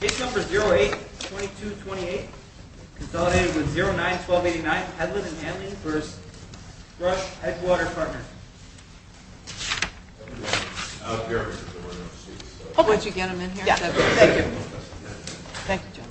Case number 08-2228, consolidated with 09-1289, Hedlund & Hanley v. Thrush Edgewater Partners. The case number is Hedlund & Hanley v. Thrush Edgewater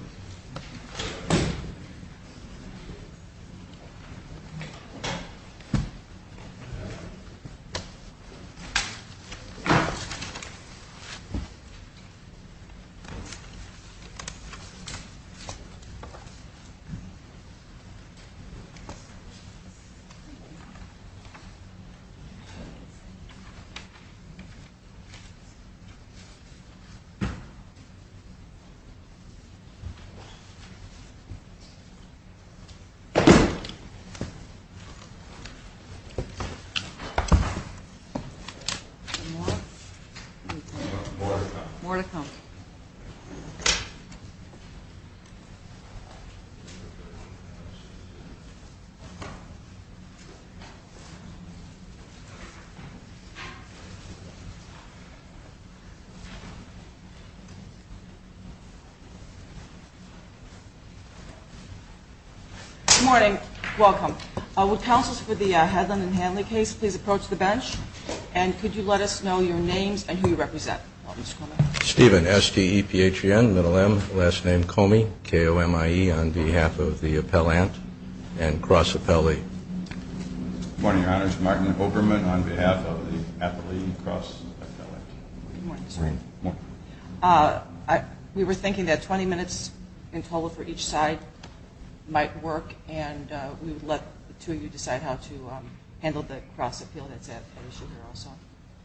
Partners. Good morning. Welcome. Would counsels for the Hedlund & Hanley case please approach the bench and could you let us know your names and who you represent. Stephen, S-T-E-P-H-E-N, middle M, last name Comey, K-O-M-I-E on behalf of the appellant and cross appellee. Good morning, your honors. Martin Oberman on behalf of the appellee cross appellant. Good morning, sir. Good morning. We were thinking that 20 minutes in total for each side might work and we would let the two of you decide how to handle the cross appeal that's at issue here also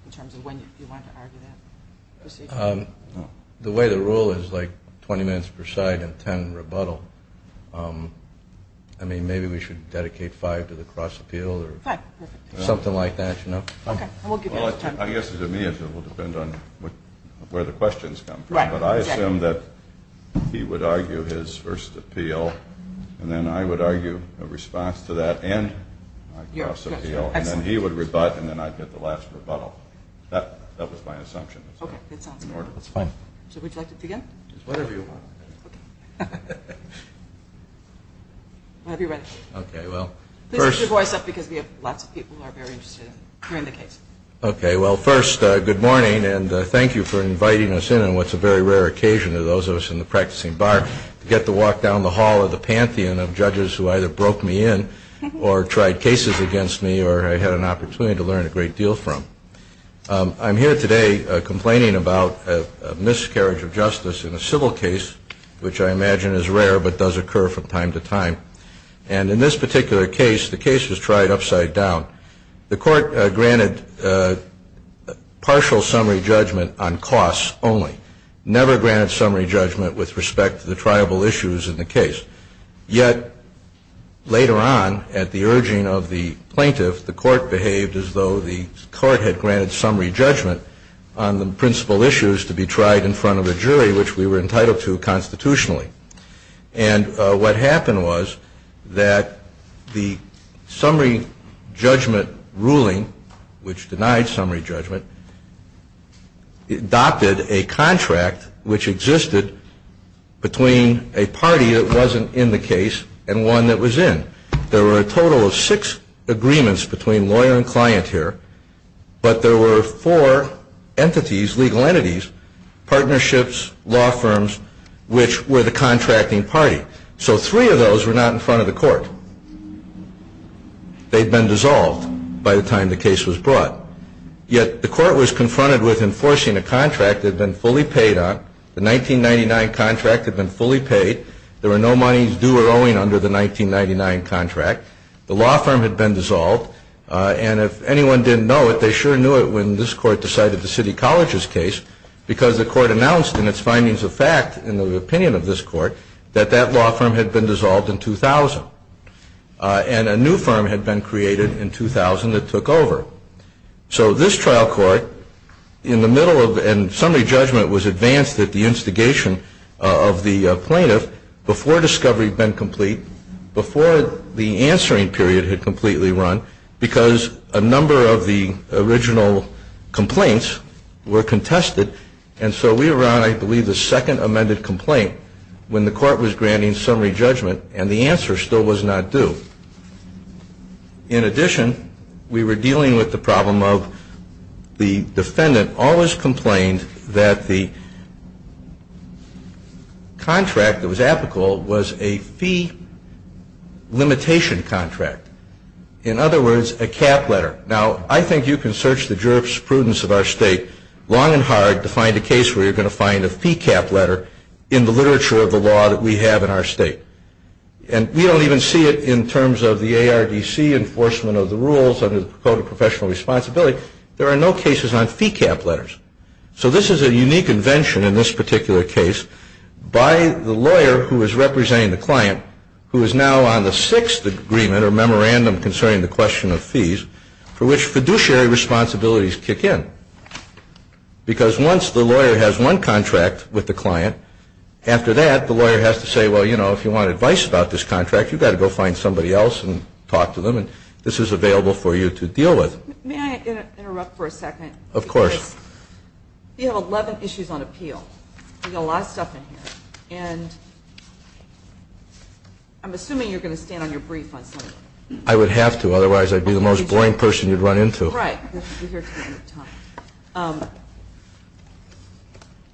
in terms of when you want to argue that. The way the rule is like 20 minutes per side and 10 rebuttal. I mean maybe we should dedicate 5 to the cross appeal or something like that, you know. I guess to me it will depend on where the questions come from, but I assume that he would argue his first appeal and then I would argue a response to that and cross appeal and then he would rebut and then I'd get the last rebuttal. That was my assumption. Okay. That's fine. So would you like to begin? Whatever you want. Okay. I'll be ready. Okay. Well, first. Please raise your voice up because we have lots of people who are very interested in hearing the case. Okay. Well, first, good morning and thank you for inviting us in on what's a very rare occasion to those of us in the practicing bar to get to walk down the hall of the pantheon of judges who either broke me in or tried cases against me or I had an opportunity to learn a great deal from. I'm here today complaining about a miscarriage of justice in a civil case, which I imagine is rare but does occur from time to time. And in this particular case, the case was tried upside down. The court behaved as though the court had granted summary judgment on the principal issues to be tried in front of a jury, which we were entitled to constitutionally. And what happened was that the summary judgment ruling, which denied summary judgment, denied that the court adopted a contract which existed between a party that wasn't in the case and one that was in. There were a total of six agreements between lawyer and client here, but there were four entities, legal entities, partnerships, law firms, which were the contracting party. So three of those were not in front of the court. They'd been dissolved by the time the contract had been fully paid on. The 1999 contract had been fully paid. There were no monies due or owing under the 1999 contract. The law firm had been dissolved. And if anyone didn't know it, they sure knew it when this court decided the City College's case because the court announced in its findings of fact, in the opinion of this court, that that law firm had been dissolved in 2000. And a new firm had been created in 2000 that took over. So this trial court, in the middle of, and summary judgment was advanced at the instigation of the plaintiff before discovery had been complete, before the answering period had completely run, because a number of the original complaints were contested. And so we were on, I believe, the second amended complaint when the court was granting summary judgment and the answer still was not due. In addition, we were dealing with the problem of the defendant always complained that the contract that was applicable was a fee limitation contract. In other words, a cap letter. Now, I think you can search the jurisprudence of our state long and hard to find a case where you're going to find a fee cap letter in the literature of the law that we have in our state. And we don't even see it in terms of the ARDC enforcement of the rules under the Code of Professional Responsibility. There are no cases on fee cap letters. So this is a unique invention in this particular case by the lawyer who is representing the client who is now on the sixth agreement or memorandum concerning the question of fees for which fiduciary responsibilities kick in. Because once the lawyer has one contract with the client, after that, the lawyer has to say, well, you know, if you want advice about this contract, you've got to go find somebody else and talk to them. And this is available for you to deal with. May I interrupt for a second? Of course. You have 11 issues on appeal. You've got a lot of stuff in here. And I'm assuming you're going to stand on your brief on some of them. I would have to. Otherwise, I'd be the most boring person you'd run into. Right. We're here to the end of time.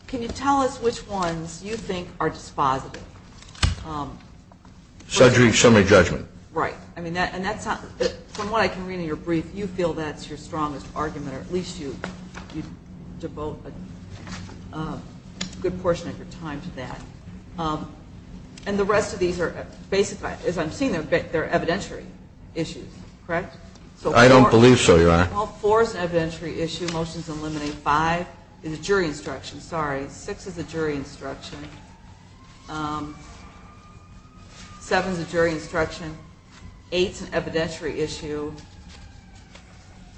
Can you tell us which ones you think are dispositive? Summary judgment. Right. And that's not – from what I can read in your brief, you feel that's your strongest argument, or at least you devote a good portion of your time to that. And the rest of these are – as I'm seeing them, they're evidentiary issues, correct? I don't believe so, Your Honor. Well, four is an evidentiary issue. Motions eliminate five. It's a jury instruction. Sorry. Six is a jury instruction. Seven is a jury instruction. Eight is an evidentiary issue.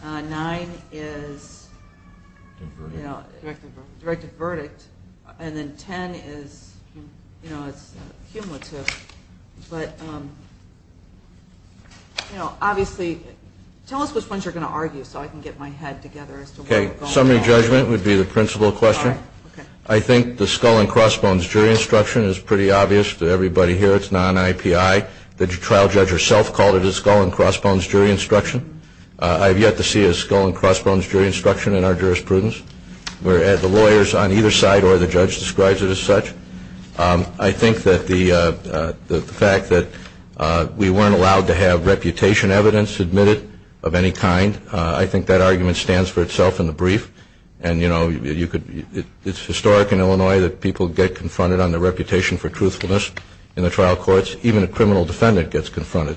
Nine is a directed verdict. And then ten is – you know, it's cumulative. But you know, obviously – tell us which ones you're going to argue so I can get my head together as to where we're going. Okay. Summary judgment would be the principal question. I think the skull and crossbones jury instruction is pretty obvious to everybody here. It's non-IPI. The trial judge herself called it a skull and crossbones jury instruction. I have yet to see a skull and crossbones jury instruction in our jurisprudence. The lawyers on either side or the judge describes it as such. I think that the fact that we weren't allowed to have reputation evidence admitted of any kind, I think that argument stands for itself in the brief. And you know, you could – it's historic in Illinois that people get confronted on their reputation for truthfulness in the trial courts. Even a criminal defendant gets confronted,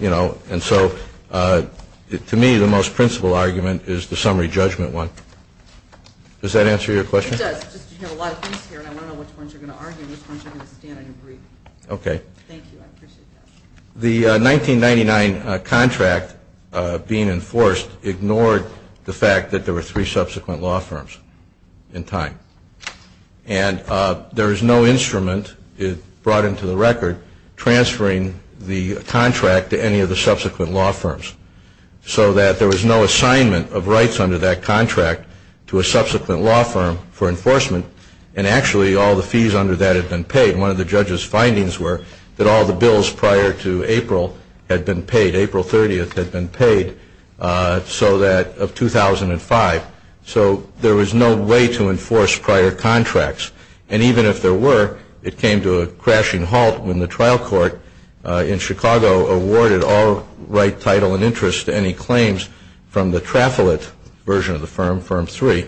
you know. And so to me, the most principal argument is the summary judgment one. Does that answer your question? It does. You have a lot of things here and I want to know which ones you're going to argue and which ones you're going to stand on your brief. Okay. Thank you. I appreciate that. The 1999 contract being enforced ignored the fact that there were three subsequent law firms in time. And there is no instrument brought into the record transferring the contract to any of the subsequent law firms. So that there was no assignment of rights under that contract to a subsequent law firm for enforcement. And actually all the fees under that had been paid. One of the judge's findings were that all the bills prior to April had been paid. April 30th had been paid so that – of 2005. So there was no way to enforce prior contracts. And even if there were, it came to a crashing halt when the trial court in Chicago awarded all right, title, and interest to any claims from the Traffolet version of the firm, Firm 3.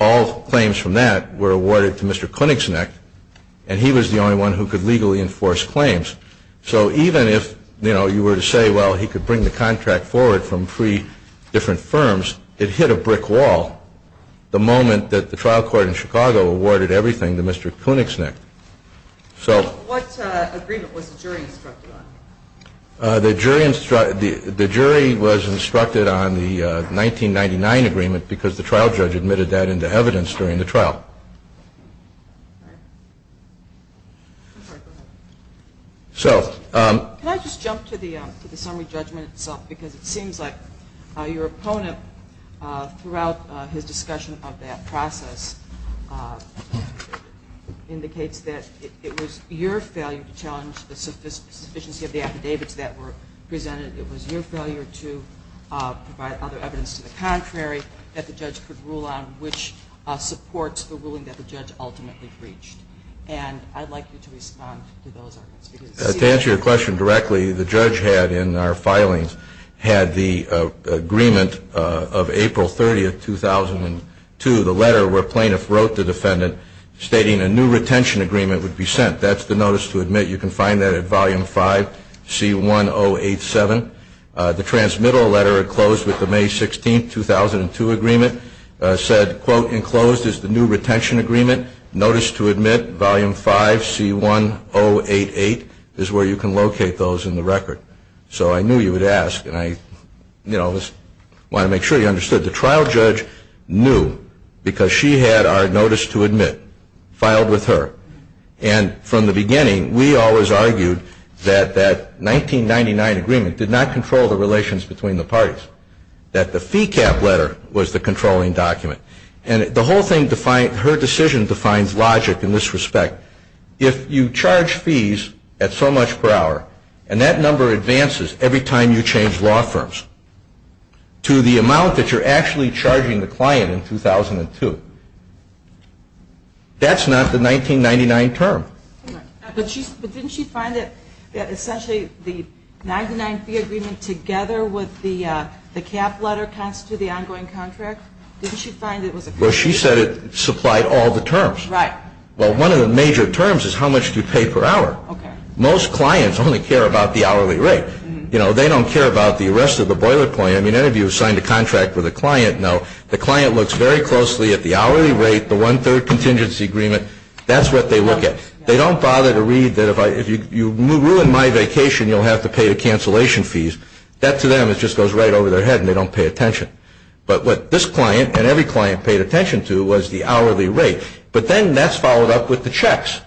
All claims from that were awarded to Mr. Koenigsegg. And he was the only one who could legally enforce claims. So even if, you know, you were to say, well, he could bring the contract forward from three different firms, it hit a brick wall the moment that the trial court in Chicago awarded everything to Mr. Koenigsegg. So what agreement was the jury instructed on? The jury was instructed on the 1999 agreement because the trial judge admitted that into evidence during the trial. So can I just jump to the summary judgment itself? Because it seems like your opponent throughout his discussion of that process indicates that it was your failure to challenge the sufficiency of the affidavits that were presented. It was your failure to provide other evidence to the contrary that the judge could rule on, which supports the ruling that the judge ultimately breached. And I'd like you to respond to those arguments. To answer your question directly, the judge had in our filings had the agreement of April 30, 2002, the letter where plaintiff wrote the defendant stating a new retention agreement would be sent. That's the notice to admit. You can find that at volume 5C1087. The transmittal letter enclosed with the May 16, 2002 agreement said, quote, enclosed is the new retention agreement, notice to admit, volume 5C1088 is where you can locate those in the record. So I knew you would ask, and I want to make sure you understood. The trial judge knew because she had our notice to admit filed with her. And from the beginning, we always argued that that 1999 agreement did not control the relations between the parties, that the decision defines logic in this respect. If you charge fees at so much per hour, and that number advances every time you change law firms, to the amount that you're actually charging the client in 2002, that's not the 1999 term. But didn't she find that essentially the 99 fee agreement together with the cap letter constitute the ongoing contract? Didn't she find it was a contract? She didn't know all the terms. Well, one of the major terms is how much you pay per hour. Most clients only care about the hourly rate. You know, they don't care about the rest of the boilerplate. I mean, any of you who've signed a contract with a client know the client looks very closely at the hourly rate, the one-third contingency agreement. That's what they look at. They don't bother to read that if you ruin my vacation, you'll have to pay the cancellation fees. That to them, it just goes right over their head, and they don't pay attention. But what this client and every client paid attention to was the hourly rate. But then that's followed up with the checks.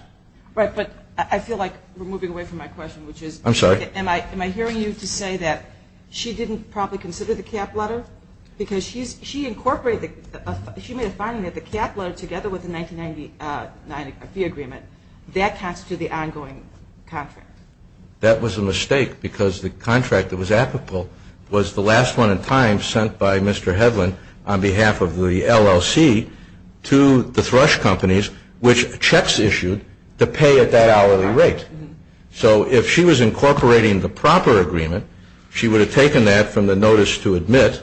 Right, but I feel like we're moving away from my question, which is... I'm sorry? Am I hearing you to say that she didn't properly consider the cap letter? Because she incorporated the, she made a finding that the cap letter together with the 1999 fee agreement, that constitutes the ongoing contract. That was a mistake, because the contract that was applicable was the last one in time sent by Mr. Hedlund on behalf of the LLC to the thrush companies, which checks issued to pay at that hourly rate. So if she was incorporating the proper agreement, she would have taken that from the notice to admit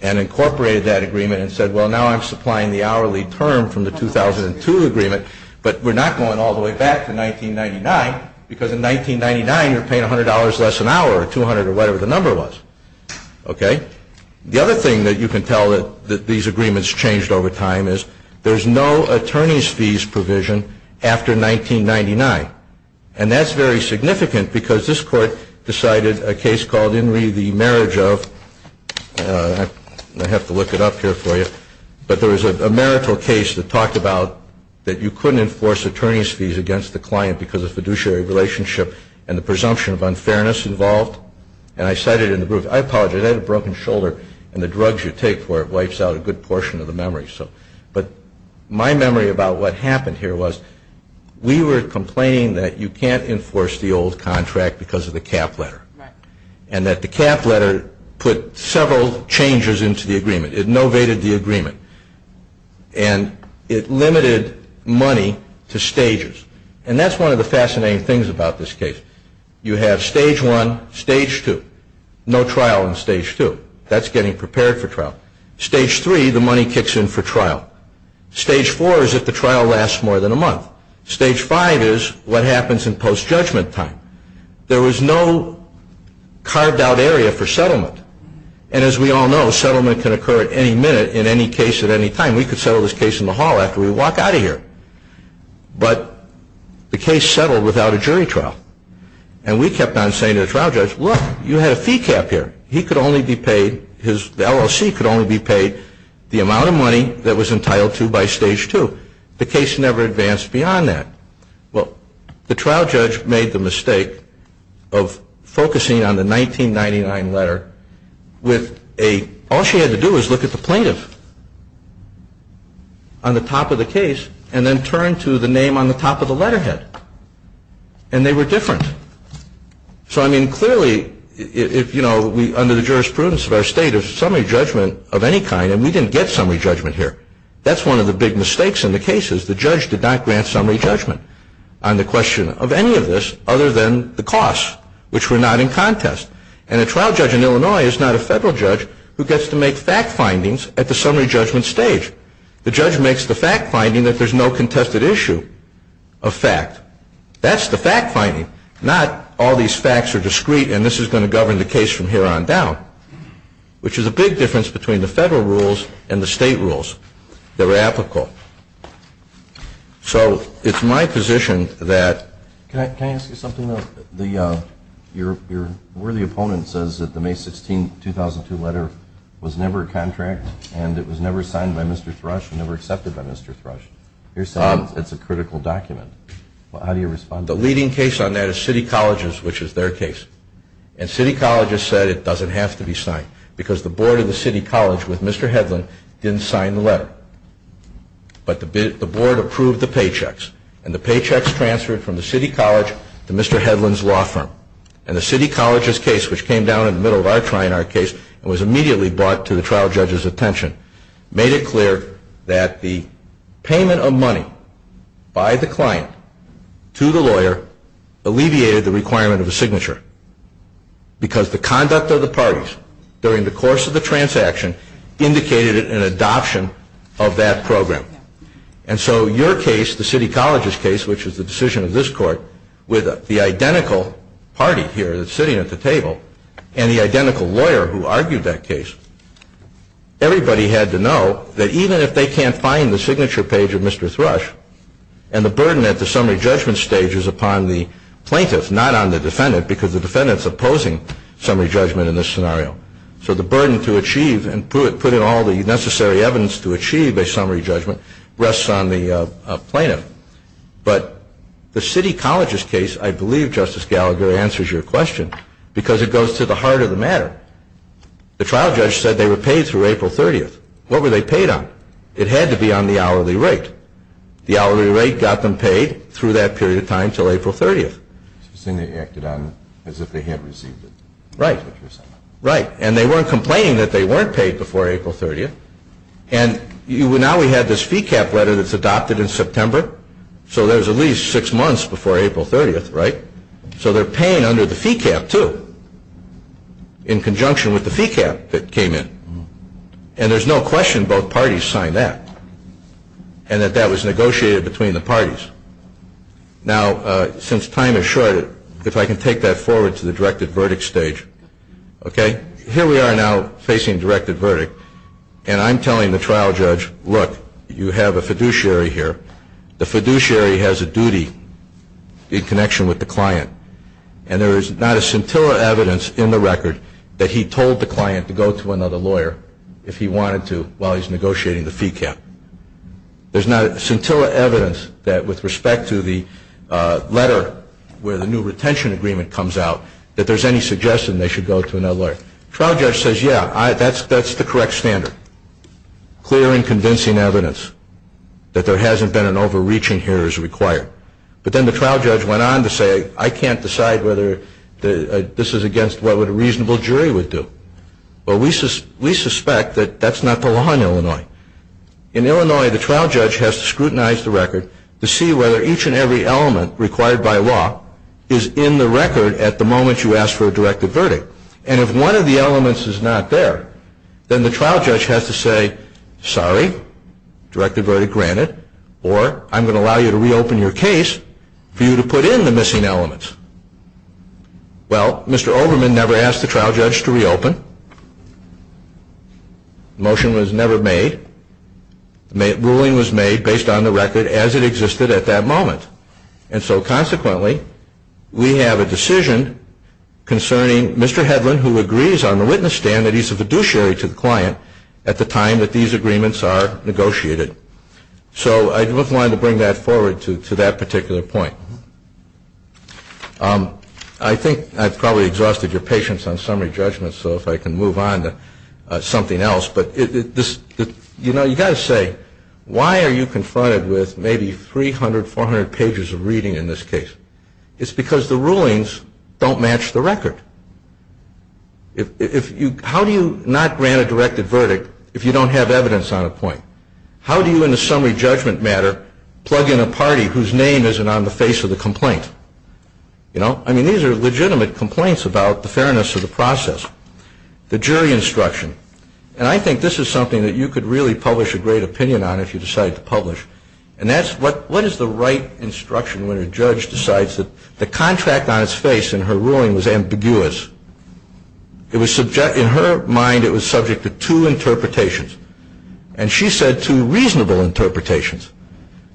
and incorporated that agreement and said, well, now I'm supplying the hourly term from the 2002 agreement, but we're not going all the way back to 1999, because in 1999, you're paying $100 less an hour, or $200, or whatever the number was. Okay? The other thing that you can tell that these agreements changed over time is there's no attorneys' fees provision after 1999. And that's very significant, because this court decided a case called In Re, the Marriage of, I have to look it up here for you, but there was a marital case that talked about that you couldn't enforce attorneys' fees against the client because of fiduciary relationship and the presumption of unfairness involved. And I cite it in the proof. I apologize. I had a broken shoulder, and the drugs you take for it wipes out a good portion of the memory. But my memory about what happened here was we were complaining that you can't enforce the old contract because of the cap letter, and that the cap letter put several changes into the agreement. It novated the And that's one of the fascinating things about this case. You have Stage 1, Stage 2. No trial in Stage 2. That's getting prepared for trial. Stage 3, the money kicks in for trial. Stage 4 is if the trial lasts more than a month. Stage 5 is what happens in post-judgment time. There was no carved-out area for settlement. And as we all know, settlement can occur at any minute in any case at any time. We could settle this case in the hall after we walk out of here. But the case settled without a jury trial. And we kept on saying to the trial judge, look, you had a fee cap here. He could only be paid, the LLC could only be paid the amount of money that was entitled to by Stage 2. The case never advanced beyond that. Well, the trial judge made the mistake of focusing on the 1999 letter with a, all over the top of the case and then turned to the name on the top of the letterhead. And they were different. So, I mean, clearly, if, you know, under the jurisprudence of our state of summary judgment of any kind, and we didn't get summary judgment here. That's one of the big mistakes in the case is the judge did not grant summary judgment on the question of any of this other than the costs, which were not in contest. And a trial judge in Illinois is not a federal judge who gets to make fact findings at the summary judgment stage. The judge makes the fact finding that there's no contested issue of fact. That's the fact finding, not all these facts are discreet and this is going to govern the case from here on down, which is a big difference between the federal rules and the state rules that were applicable. So, it's my position that... Can I ask you something? Your worthy opponent says that the May 16, 2002 letter was never signed by Mr. Thrush and never accepted by Mr. Thrush. You're saying it's a critical document. How do you respond to that? The leading case on that is City Colleges, which is their case. And City Colleges said it doesn't have to be signed because the board of the City College with Mr. Hedlund didn't sign the letter. But the board approved the paychecks and the paychecks transferred from the City College to Mr. Hedlund's law firm. And the City College's case, which came down the middle of our trial in our case and was immediately brought to the trial judge's attention, made it clear that the payment of money by the client to the lawyer alleviated the requirement of a signature because the conduct of the parties during the course of the transaction indicated an adoption of that program. And so your case, the City College's case, which and the identical lawyer who argued that case, everybody had to know that even if they can't find the signature page of Mr. Thrush, and the burden at the summary judgment stage is upon the plaintiff, not on the defendant, because the defendant's opposing summary judgment in this scenario. So the burden to achieve and put in all the necessary evidence to achieve a summary judgment rests on the plaintiff. But the City College's case, I believe, Justice Gallagher, answers your question because it is at the heart of the matter. The trial judge said they were paid through April 30th. What were they paid on? It had to be on the hourly rate. The hourly rate got them paid through that period of time until April 30th. So you're saying they acted on it as if they had received it? Right. Right. And they weren't complaining that they weren't paid before April 30th. And now we have this fee cap letter that's adopted in September, so there's at least in conjunction with the fee cap that came in. And there's no question both parties signed that and that that was negotiated between the parties. Now, since time is short, if I can take that forward to the directed verdict stage, okay? Here we are now facing directed verdict, and I'm telling the trial judge, look, you have a fiduciary here. The fiduciary has a duty in connection with the client, and there is not a scintilla evidence in the record that he told the client to go to another lawyer if he wanted to while he's negotiating the fee cap. There's not a scintilla evidence that with respect to the letter where the new retention agreement comes out that there's any suggestion they should go to another lawyer. Trial judge says, yeah, that's the correct standard. Clear and convincing evidence that there hasn't been an overreaching here is required. But then the trial judge went on to say, I can't decide whether this is against what a reasonable jury would do. Well, we suspect that that's not the law in Illinois. In Illinois, the trial judge has to scrutinize the record to see whether each and every element required by law is in the record at the moment you ask for a directed verdict. And if one of the elements is not there, then the trial judge has to say, sorry, directed verdict granted, or I'm going to allow you to reopen your case for you to put in the missing elements. Well, Mr. Olderman never asked the trial judge to reopen. The motion was never made. The ruling was made based on the record as it existed at that moment. And so consequently, we have a decision concerning Mr. Hedlund, who agrees on the witness stand that he's a fiduciary to the client at the time that these agreements are negotiated. So I just wanted to bring that forward to that particular point. I think I've probably exhausted your patience on summary judgments, so if I can move on to something else. But this, you know, you've got to say, why are you confronted with maybe 300, 400 pages of reading in this case? It's because the rulings don't match the record. If you, how do you not grant a directed verdict if you don't have evidence on a point? How do you, in a summary judgment matter, plug in a party whose name isn't on the face of the complaint? You know? I mean, these are legitimate complaints about the fairness of the process. The jury instruction. And I think this is something that you could really publish a great opinion on if you decide to publish. And that's what is the right instruction when a judge decides that the contract on its face in her ruling was ambiguous? It was subject to, in her mind, it was subject to two interpretations. And she said two reasonable interpretations.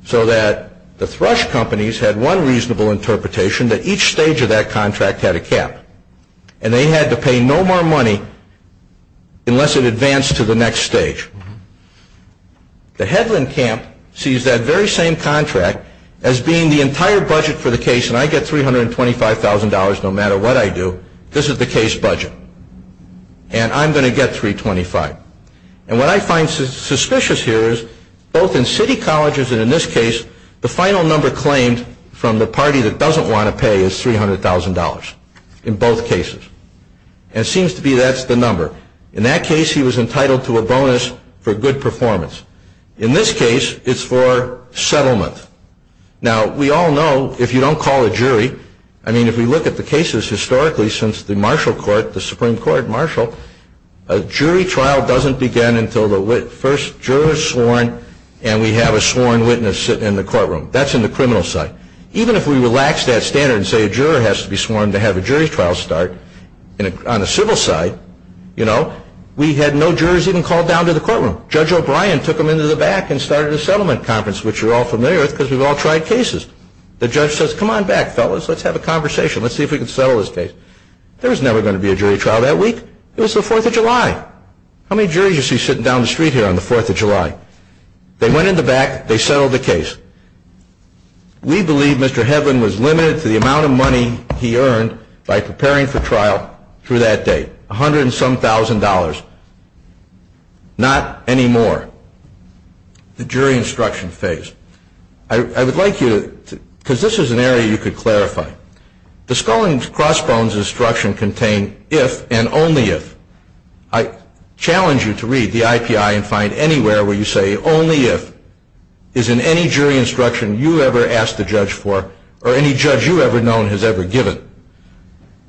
So that the Thrush companies had one reasonable interpretation that each stage of that contract had a cap. And they had to pay no more money unless it advanced to the next stage. The Hedlund camp sees that very same contract as being the entire budget for the case, and I get $325,000 no matter what I do. This is the case budget. And I'm going to get $325,000. And what I find suspicious here is, both in city colleges and in this case, the final number claimed from the party that doesn't want to pay is $300,000. In both cases. And it seems to be that's the number. In that case he was entitled to a bonus for good performance. In this case it's for settlement. Now we all know if you don't call a jury, I mean if we look at the cases historically since the Marshall Court, the Supreme Court, Marshall, a jury trial doesn't begin until the first juror is sworn and we have a sworn witness sit in the courtroom. That's in the criminal side. Even if we relax that standard and say a juror has to be sworn to have a jury trial start, on the civil side, you know, we had no jurors even called down to the courtroom. Judge O'Brien took them into the back and started a settlement conference, which you're all familiar with because we've all tried cases. The judge says, come on back, fellas, let's have a conversation. Let's see if we can settle this case. There was never going to be a jury trial that week. It was the 4th of July. How many juries you see sitting down the street here on the 4th of July? They went in the back, they settled the case. We believe Mr. Hedlund was limited to the amount of money he earned by preparing for trial through that date. A hundred and some thousand dollars. Not any more. The jury instruction phase. I would like you to, because this is an area you could clarify. The Skull and Crossbones instruction contain if and only if. I challenge you to read the IPI and find anywhere where you say only if is in any jury instruction you ever asked the judge for or any judge you ever known has ever given.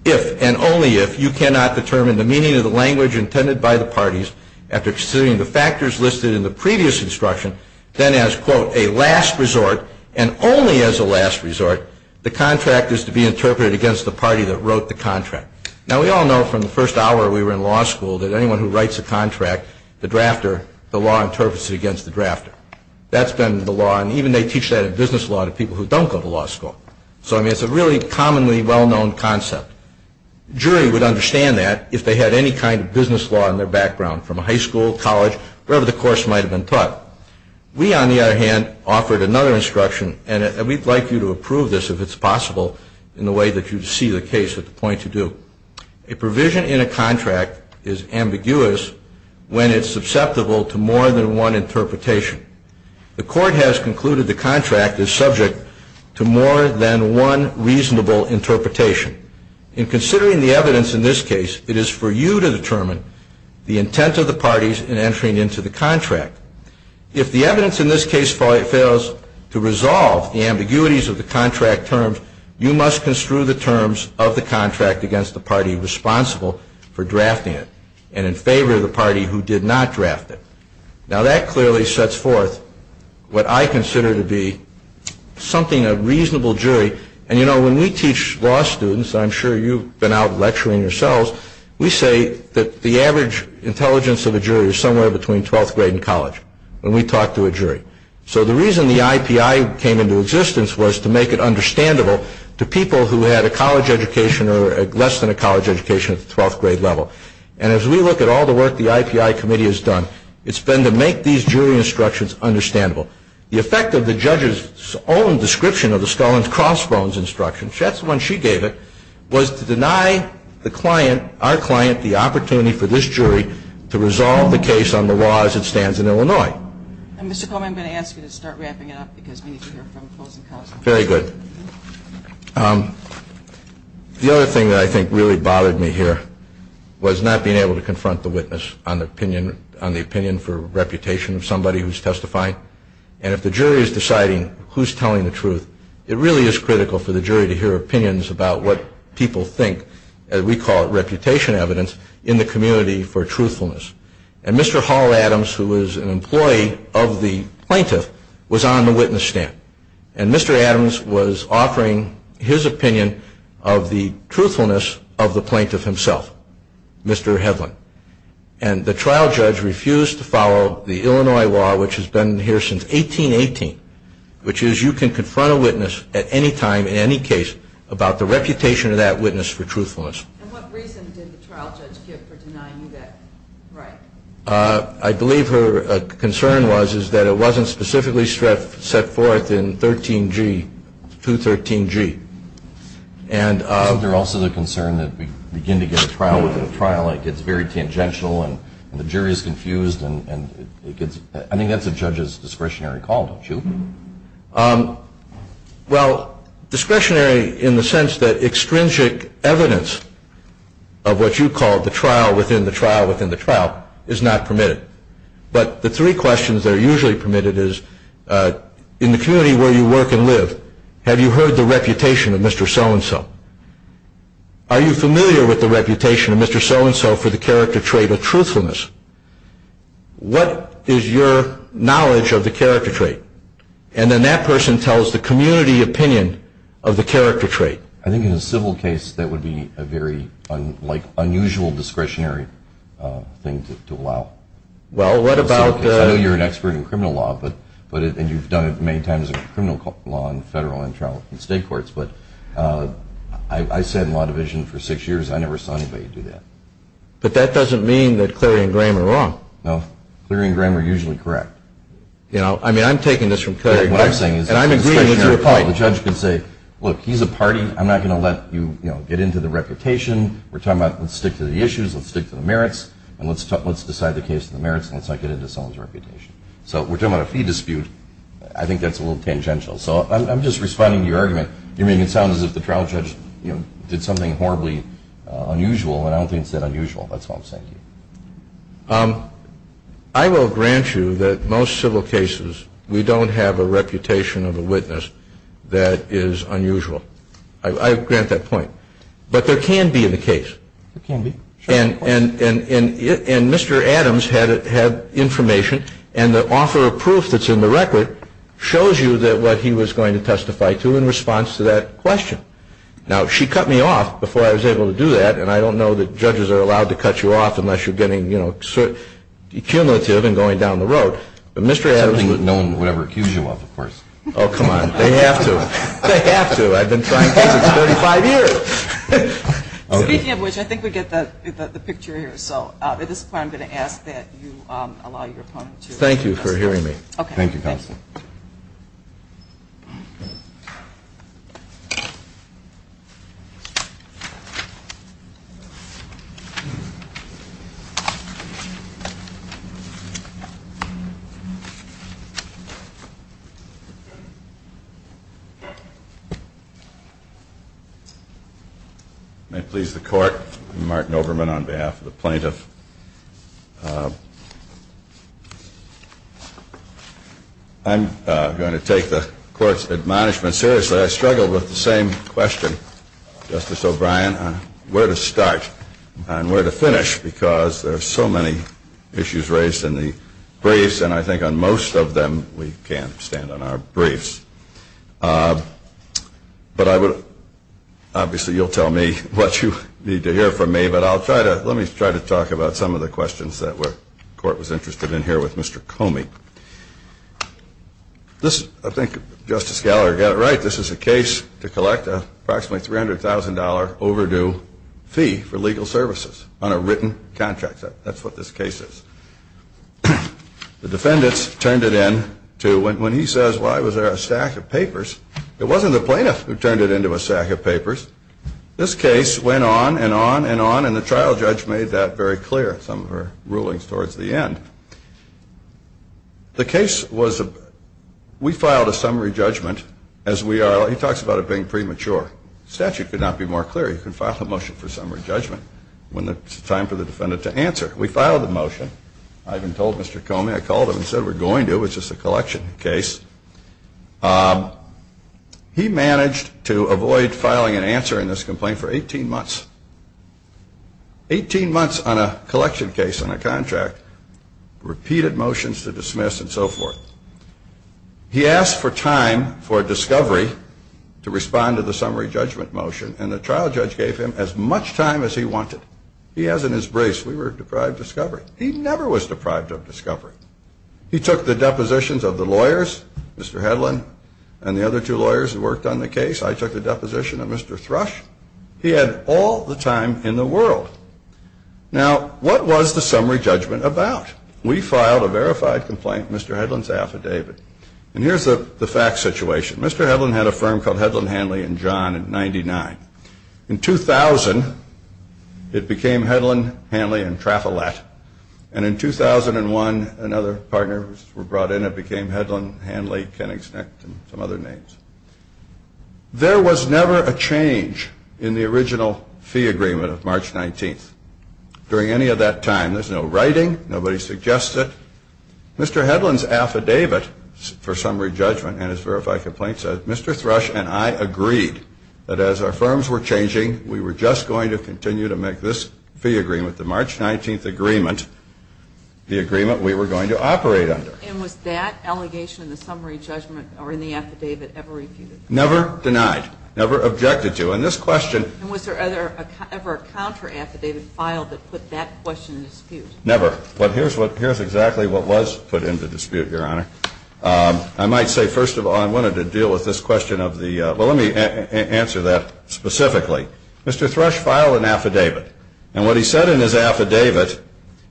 If and only if you cannot determine the meaning of the language intended by the parties after considering the factors listed in the previous instruction, then as, quote, a last resort and only as a last resort, the contract is to be interpreted against the party that wrote the contract. Now we all know from the first hour we were in law school that anyone who writes a contract, the drafter, the law interprets it against the drafter. That's been the law and even they teach that in business law to people who don't go to law school. So I mean it's a really commonly well-known concept. Jury would understand that if they had any kind of business law in their background from a high school, college, wherever the course might have been taught. We, on the other hand, offered another instruction and we'd like you to approve this if it's possible in the way that you see the case at the point to do. A provision in a contract is ambiguous when it's susceptible to more than one interpretation. The court has concluded the contract is subject to more than one reasonable interpretation. In considering the evidence in this case, it is for you to determine the intent of the parties in entering into the contract. If the evidence in this case fails to resolve the ambiguities of the contract terms, you must construe the terms of the contract against the party responsible for drafting it and in favor of the party who did not draft it. Now that clearly sets forth what I consider to be something of reasonable jury. And you know when we teach law students, I'm sure you've been out lecturing yourselves, we say that the average intelligence of a jury is somewhere between 12th grade and college when we talk to a jury. So the reason the IPI came into existence was to make it understandable to people who had a college education or less than a college education at the 12th grade level. And as we look at all the work the IPI committee has done, it's been to make these jury instructions understandable. The effect of the judge's own description of the Scullin's crossbones instruction, that's the one she gave it, was to deny the client, our client, the opportunity for this jury to resolve the case on the law as it stands in Illinois. And Mr. Coleman, I'm going to ask you to start wrapping it up because we need to hear from closing counsel. Very good. The other thing that I think really bothered me here was not being able to confront the witness on the opinion for reputation of somebody who's testifying. And if the jury is deciding who's telling the truth, it really is critical for the jury to hear opinions about what people think, as we call it reputation evidence, in the community for truthfulness. And Mr. Hall Adams, who was an employee of the plaintiff, was on the witness stand. And Mr. Adams was offering his opinion of the truthfulness of the plaintiff himself, Mr. Hedlund. And the trial judge refused to follow the Illinois law, which has been here since 1818, which is you can confront a witness at any time in any case about the reputation of that witness for truthfulness. And what reason did the trial judge give for denying you that right? I believe her concern was, is that it wasn't specifically set forth in 13G, 213G. Isn't there also the concern that we begin to get a trial within a trial and it gets very tangential and the jury is confused and it gets, I think that's a judge's discretionary call, don't you? Well, discretionary in the sense that extrinsic evidence of what you call the trial within the trial within the trial is not permitted. But the three questions that are usually permitted is, in the community where you work and live, have you heard the reputation of Mr. So-and-so? Are you familiar with the reputation of Mr. So-and-so for the character trait of truthfulness? What is your knowledge of the character trait? And then that person tells the community opinion of the character trait. I think in a civil case that would be a very unusual discretionary thing to allow. Well, what about the... I know you're an expert in criminal law and you've done it many times in criminal law in federal and state courts, but I sat in law division for six years and I never saw anybody do that. But that doesn't mean that Cleary and Graham are wrong. No. Cleary and Graham are usually correct. I mean, I'm taking this from Cleary. What I'm saying is... And I'm agreeing with your point. The judge can say, look, he's a party. I'm not going to let you get into the reputation. We're talking about let's stick to the issues, let's stick to the merits, and let's decide the case in the merits and let's not get into someone's reputation. So we're talking about a fee dispute. I think that's a little tangential. So I'm just responding to your argument. You're making it sound as if the trial judge did something horribly unusual, and I don't think it's that unusual. That's all I'm saying to you. I will grant you that most civil cases, we don't have a reputation of a witness that is unusual. I grant that point. But there can be in the case. There can be. And Mr. Adams had information, and the offer of proof that's in the record shows you what he was going to testify to in response to that question. Now, she cut me off before I was able to do that, and I don't know that judges are allowed to cut you off unless you are getting, you know, cumulative and going down the road. But Mr. Adams... He's already known whatever he accused you of, of course. Oh, come on. They have to. They have to. I've been trying cases 35 years. Speaking of which, I think we get the picture here. So at this point, I'm going to ask that you allow your opponent to... Thank you for hearing me. Okay. Thank you, Counsel. May it please the Court, I'm Martin Overman on behalf of the plaintiff. I'm going to take the Court's admonishment seriously. I struggled with the same question, Justice O'Brien, on where to start and where to finish, because there are so many issues raised in the briefs, and I think on most of them, we can't stand on our briefs. But I would... Obviously, you'll tell me what you need to hear from me, but I'll try to... Let me try to talk about some of the questions that the Court was interested in here with Mr. Comey. I think Justice Gallagher got it right. This is a case to collect an approximately $300,000 overdue fee for legal services on a written contract. That's what this case is. The defendants turned it in to... When he says, why was there a stack of papers, it wasn't the plaintiff who turned it into a stack of papers. This case went on and on and on, and the trial judge made that very clear in some of her rulings towards the end. The case was... We filed a summary judgment, as we are... He talks about it being premature. The statute could not be more clear. You can file a motion for summary judgment when it's time for the defendant to answer. We filed the motion. I even told Mr. Comey, I called him and said, we're going to, it's just a collection case. He managed to avoid filing an answer in this complaint for 18 months. 18 months on a collection case, on a contract, repeated motions to dismiss and so forth. He asked for time for discovery to respond to the summary judgment motion, and the trial judge gave him as much time as he wanted. He has it in his brace. We were deprived of discovery. He never was deprived of discovery. He took the depositions of the lawyers, Mr. Hedlund and the other two lawyers who worked on the case. I took the deposition of Mr. Thrush. He had all the time in the world. Now, what was the summary judgment about? We filed a verified complaint, Mr. Hedlund's affidavit. And here's the fact situation. Mr. Hedlund had a firm called Hedlund Hanley and John in 99. In 2000, it became Hedlund Hanley and Trafalet. And in 2001, another partner was brought in and it became Hedlund Hanley, and some other names. There was never a change in the original fee agreement of March 19th. During any of that time, there's no writing, nobody suggests it. Mr. Hedlund's affidavit for summary judgment and his verified complaint says, Mr. Thrush and I agreed that as our firms were changing, we were just going to continue to make this fee agreement, the March 19th agreement, the agreement we were going to operate under. And was that allegation in the summary judgment or in the affidavit ever refuted? Never denied. Never objected to. And this question... And was there ever a counter affidavit filed that put that question in dispute? Never. But here's exactly what was put into dispute, Your Honor. I might say, first of all, I wanted to deal with this question of the... Well, let me answer that specifically. Mr. Thrush filed an affidavit. And what he said in his affidavit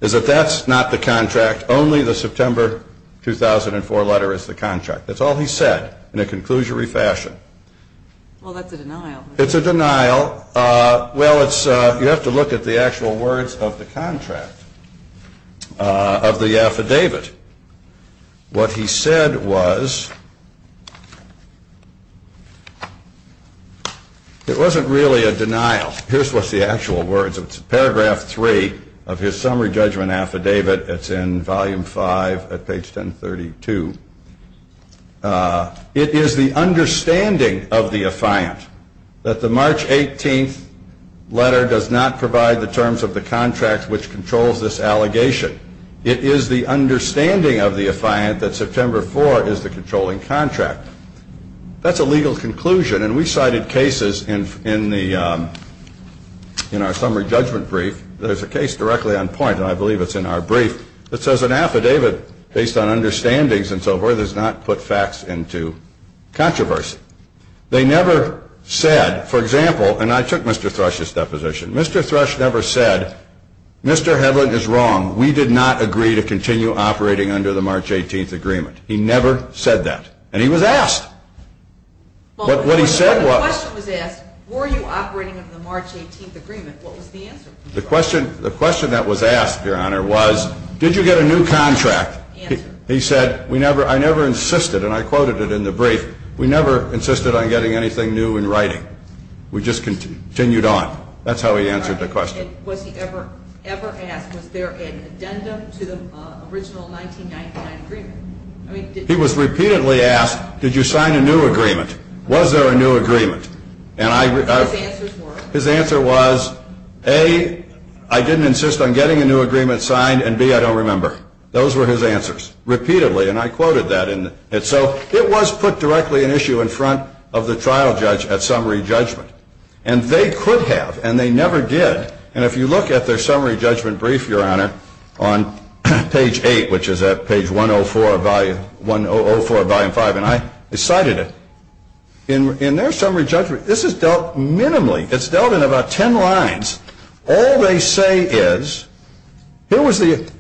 is that that's not the contract. Only the September 2004 letter is the contract. That's all he said in a conclusory fashion. Well, that's a denial. It's a denial. Well, you have to look at the actual words of the contract, of the affidavit. What he said was... It wasn't really a denial. Here's what's the actual words of it. Paragraph 3 of his summary judgment affidavit. It's in volume 5 at page 1032. It is the understanding of the affiant that the March 18th letter does not provide the terms of the contract which controls this allegation. It is the understanding of the affiant that September 4 is the controlling contract. That's a legal conclusion. And we cited cases in our summary judgment brief. There's a case directly on point, and I believe it's in our brief, that says an affidavit based on understandings and so forth does not put facts into controversy. They never said, for example, and I took Mr. Thrush's deposition. Mr. Thrush never said, Mr. Hedlund is wrong. We did not agree to continue operating under the March 18th agreement. He never said that. And he was asked. But what he said was... When the question was asked, were you operating under the March 18th agreement, what was the answer? The question that was asked, Your Honor, was, did you get a new contract? He said, I never insisted, and I quoted it in the brief, we never insisted on getting anything new in writing. We just continued on. That's how he answered the question. Was he ever asked, was there an addendum to the original 1999 agreement? He was repeatedly asked, did you sign a new agreement? Was there a new agreement? And I... What were his answers? His answer was, A, I didn't insist on getting a new agreement signed, and B, I don't remember. Those were his answers. Repeatedly. And I quoted that. And so, it was put directly in issue in front of the trial judge at summary judgment. And they could have, and they never did. And if you look at their summary judgment brief, Your Honor, on page 8, which is at page 104 of volume 5, and I cited it, in their summary judgment, this is dealt minimally. It's dealt in about 10 lines. All they say is, here was the...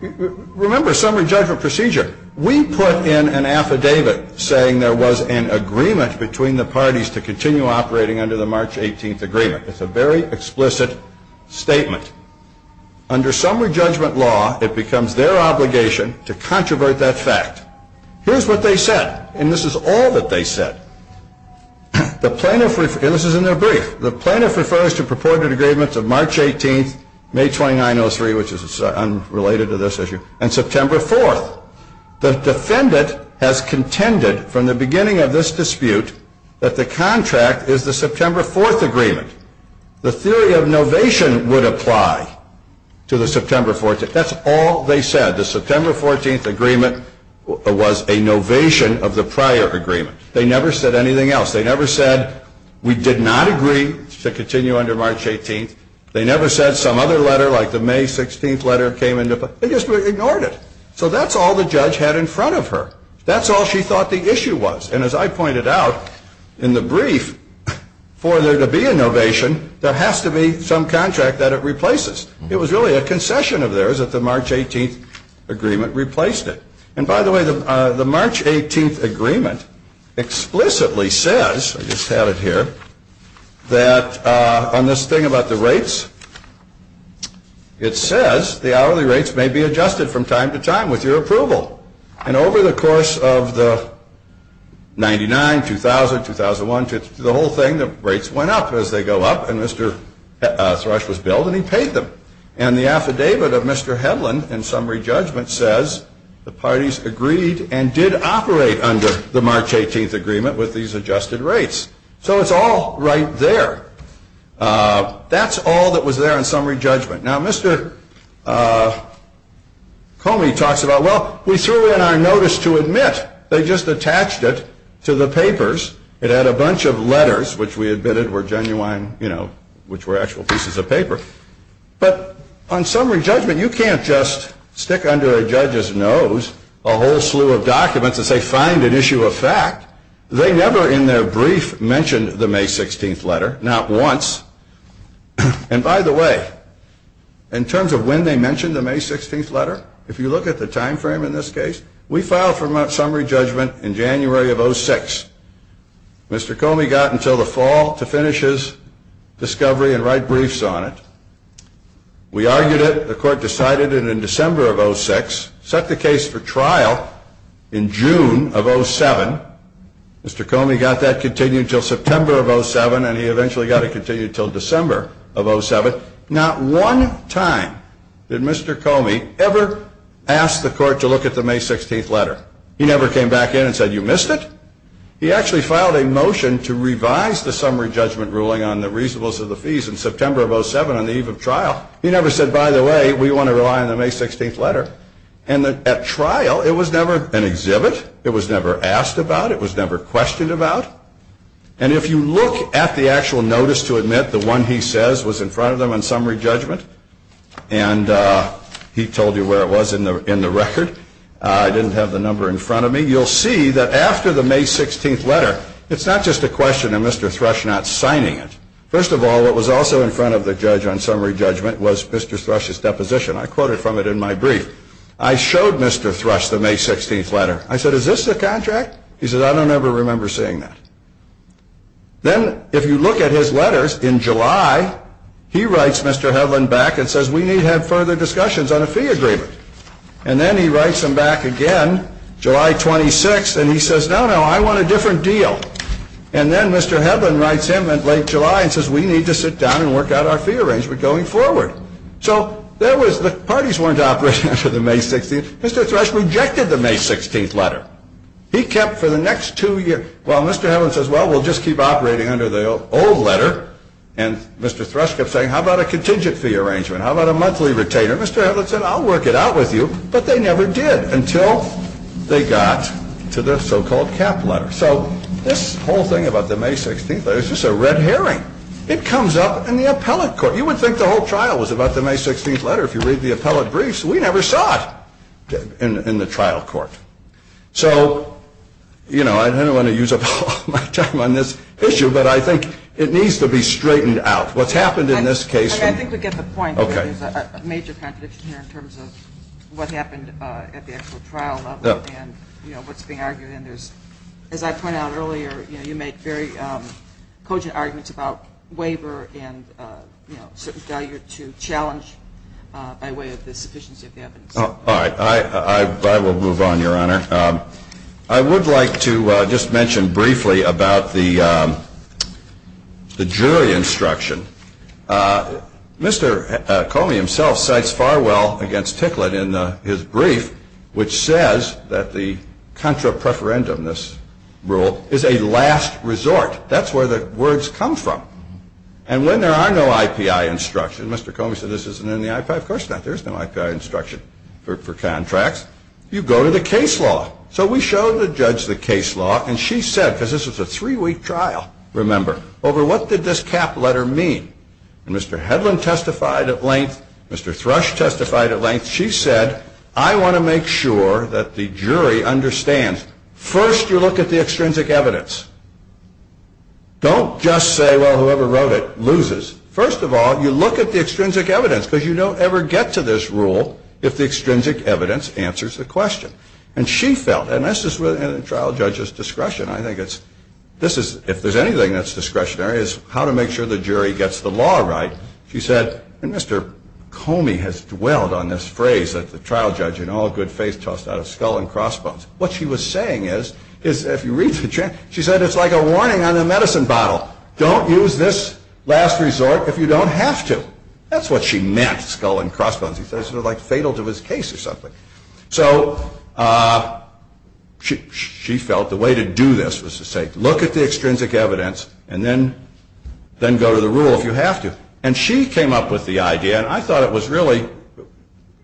Remember, summary judgment procedure. We put in an affidavit saying there was an agreement between the parties to continue operating under the March 18th agreement. It's a very explicit statement. Under summary judgment law, it becomes their obligation to controvert that fact. Here's what they said, and this is all that they said. The plaintiff... And this is in their brief. The plaintiff refers to purported agreements of March 18th, May 2903, which is unrelated to this issue, and September 4th. The defendant has contended from the beginning of this dispute that the contract is the September 4th agreement. The theory of novation would apply to the September 14th. That's all they said. The September 14th agreement was a novation of the prior agreement. They never said anything else. They never said, we did not agree to continue under March 18th. They never said some other letter, like the May 16th letter came into play. They just ignored it. So that's all the judge had in front of her. That's all she thought the issue was. And as I pointed out in the brief, for there to be a novation, there has to be some contract that it replaces. It was really a concession of theirs that the March 18th agreement replaced it. And by the way, the March 18th agreement explicitly says, I just have it here, that on this thing about the rates, it says the hourly rates may be adjusted from time to time with your approval. And over the course of the 99, 2000, 2001, the whole thing, the rates went up as they go up, and Mr. Thrush was billed, and he paid them. And the affidavit of Mr. Hedlund in summary judgment says the parties agreed and did operate under the March 18th agreement with these adjusted rates. So it's all right there. That's all that was there in summary judgment. Now, Mr. Comey talks about, well, we threw in our notice to admit. They just attached it to the papers. It had a bunch of letters, which we admitted were genuine, which were actual pieces of paper. But on summary judgment, you can't just stick under a judge's nose a whole slew of documents and say, find an issue of fact. They never in their brief mentioned the May 16th letter. Not once. And by the way, in terms of when they mentioned the May 16th letter, if you look at the time frame in this case, we filed for summary judgment in January of 06. Mr. Comey got until the fall to finish his discovery and write briefs on it. We argued it. The court decided it in December of 06, set the case for trial in June of 07. Mr. Comey got that continued until September of 07, and he eventually got it continued until December of 07. Not one time did Mr. Comey ever ask the court to look at the May 16th letter. He never came back in and said, you missed it? He actually filed a motion to revise the summary judgment ruling on the reasonableness of the fees in September of 07 on the eve of trial. He never said, by the way, we want to rely on the May 16th letter. And at trial, it was never an exhibit. It was never asked about. It was never questioned about. And if you look at the actual notice to admit the one he says was in front of them on summary judgment, and he told you where it was in the record. I didn't have the number in front of me. You'll see that after the May 16th letter, it's not just a question of Mr. Thrush not signing it. First of all, what was also in front of the judge on summary judgment was Mr. Thrush's deposition. I quoted from it in my brief. I showed Mr. Thrush the May 16th letter. I said, is this the contract? He said, I don't ever remember seeing that. Then, if you look at his letters in July, he writes Mr. Hedlund back and says, we need to have further discussions on a fee agreement. And then he writes him back again, July 26th, and he says, no, no, I want a different deal. And then Mr. Hedlund writes him in late July and says, we need to sit down and work out our fee arrangement going forward. So the parties weren't operating under the May 16th. Mr. Thrush rejected the May 16th letter. He kept for the next two years. Well, Mr. Hedlund says, well, we'll just keep operating under the old letter. And Mr. Thrush kept saying, how about a contingent fee arrangement? How about a monthly retainer? Mr. Hedlund said, I'll work it out with you. But they never did until they got to the so-called cap letter. So this whole thing about the May 16th letter is just a red herring. It comes up in the appellate court. You would think the whole trial was about the May 16th letter. If you read the appellate briefs, we never saw it in the trial court. So I don't want to use up all my time on this issue, but I think it needs to be straightened out. What's happened in this case. I think we get the point. There's a major contradiction here in terms of what happened at the actual trial level and what's being argued. As I pointed out earlier, you make very cogent arguments about waiver and certain value to challenge by way of the sufficiency of the evidence. All right. I will move on, Your Honor. I would like to just mention briefly about the jury instruction. Mr. Comey himself cites farewell against Ticklett in his brief, which says that the contra preferendum, this rule, is a last resort. That's where the words come from. And when there are no IPI instructions, Mr. Comey said this isn't in the IPI. Of course not. There is no IPI instruction for contracts. You go to the case law. So we showed the judge the case law, and she said, because this was a three-week trial, remember, over what did this cap letter mean. And Mr. Hedlund testified at length. Mr. Thrush testified at length. She said, I want to make sure that the jury understands. First, you look at the extrinsic evidence. Don't just say, well, whoever wrote it loses. First of all, you look at the extrinsic evidence, because you don't ever get to this rule if the extrinsic evidence answers the question. And she felt, and this is within a trial judge's discretion, I think it's, if there's anything that's discretionary, it's how to make sure the jury gets the law right. She said, and Mr. Comey has dwelled on this phrase that the trial judge in all good faith tossed out of Skull and Crossbones. What she was saying is, if you read the transcript, she said, it's like a warning on a medicine bottle. Don't use this last resort if you don't have to. That's what she meant, Skull and Crossbones. He said it was sort of like fatal to his case or something. So she felt the way to do this was to say, look at the extrinsic evidence, and then go to the rule if you have to. And she came up with the idea, and I thought it was really,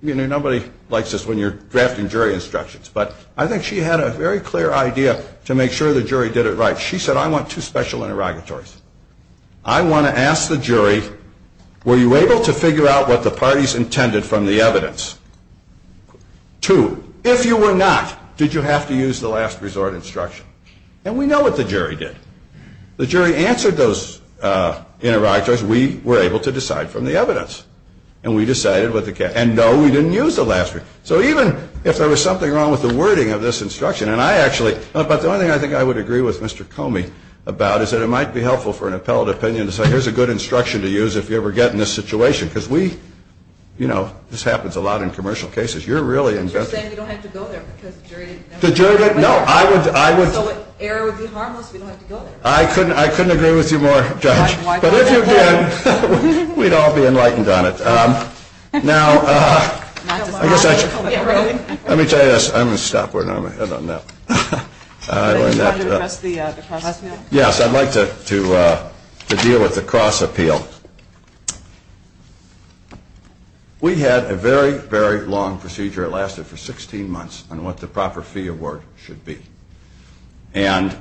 you know, nobody likes this when you're drafting jury instructions, but I think she had a very clear idea to make sure the jury did it right. She said, I want two special interrogatories. I want to ask the jury, were you able to figure out what the parties intended from the evidence? Two, if you were not, did you have to use the last resort instruction? And we know what the jury did. The jury answered those interrogatories. We were able to decide from the evidence. And we decided what the case, and no, we didn't use the last resort. So even if there was something wrong with the wording of this instruction, and I actually, but the only thing I think I would agree with Mr. Comey about is that it might be helpful for an appellate opinion to say, here's a good instruction to use if you ever get in this situation. Because we, you know, this happens a lot in commercial cases. You're really inventive. But you're saying you don't have to go there because the jury didn't know. The jury didn't know. So error would be harmless if you don't have to go there. I couldn't agree with you more, Judge. But if you did, we'd all be enlightened on it. Now, I guess I should. Let me tell you this. I'm going to stop where I normally end on that. I learned that. Yes, I'd like to deal with the cross appeal. We had a very, very long procedure. It lasted for 16 months on what the proper fee award should be. And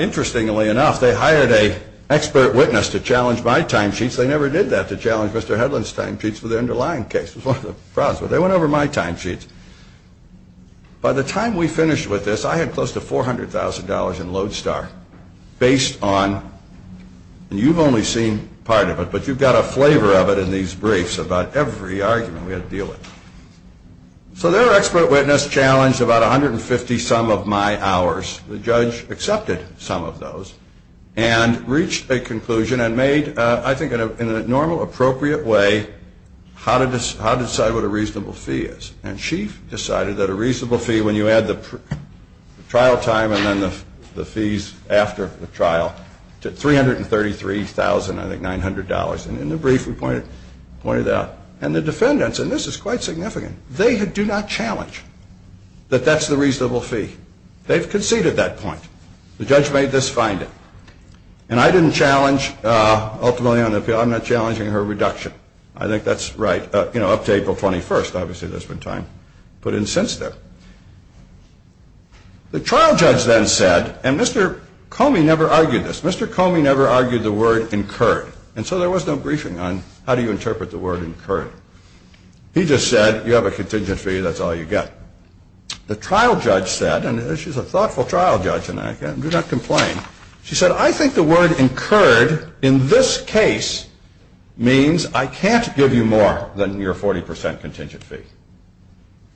interestingly enough, they hired an expert witness to challenge my timesheets. They never did that, to challenge Mr. Headland's timesheets for the underlying case. It was one of the problems. But they went over my timesheets. By the time we finished with this, I had close to $400,000 in Lodestar, based on, and you've only seen part of it, but you've got a flavor of it in these briefs about every argument we had to deal with. So their expert witness challenged about 150-some of my hours. The judge accepted some of those and reached a conclusion and made, I think, in a normal, appropriate way, how to decide what a reasonable fee is. And she decided that a reasonable fee, when you add the trial time and then the fees after the trial, to $333,900. And in the brief, we pointed that out. And the defendants, and this is quite significant, they do not challenge that that's the reasonable fee. They've conceded that point. The judge made this finding. And I didn't challenge, ultimately on the appeal, I'm not challenging her reduction. I think that's right, you know, up to April 21st. Obviously, there's been time put in since then. The trial judge then said, and Mr. Comey never argued this, Mr. Comey never argued the word incurred. And so there was no briefing on how do you interpret the word incurred. He just said, you have a contingent fee, that's all you get. The trial judge said, and she's a thoughtful trial judge, and I do not complain. She said, I think the word incurred in this case means I can't give you more than your 40% contingent fee.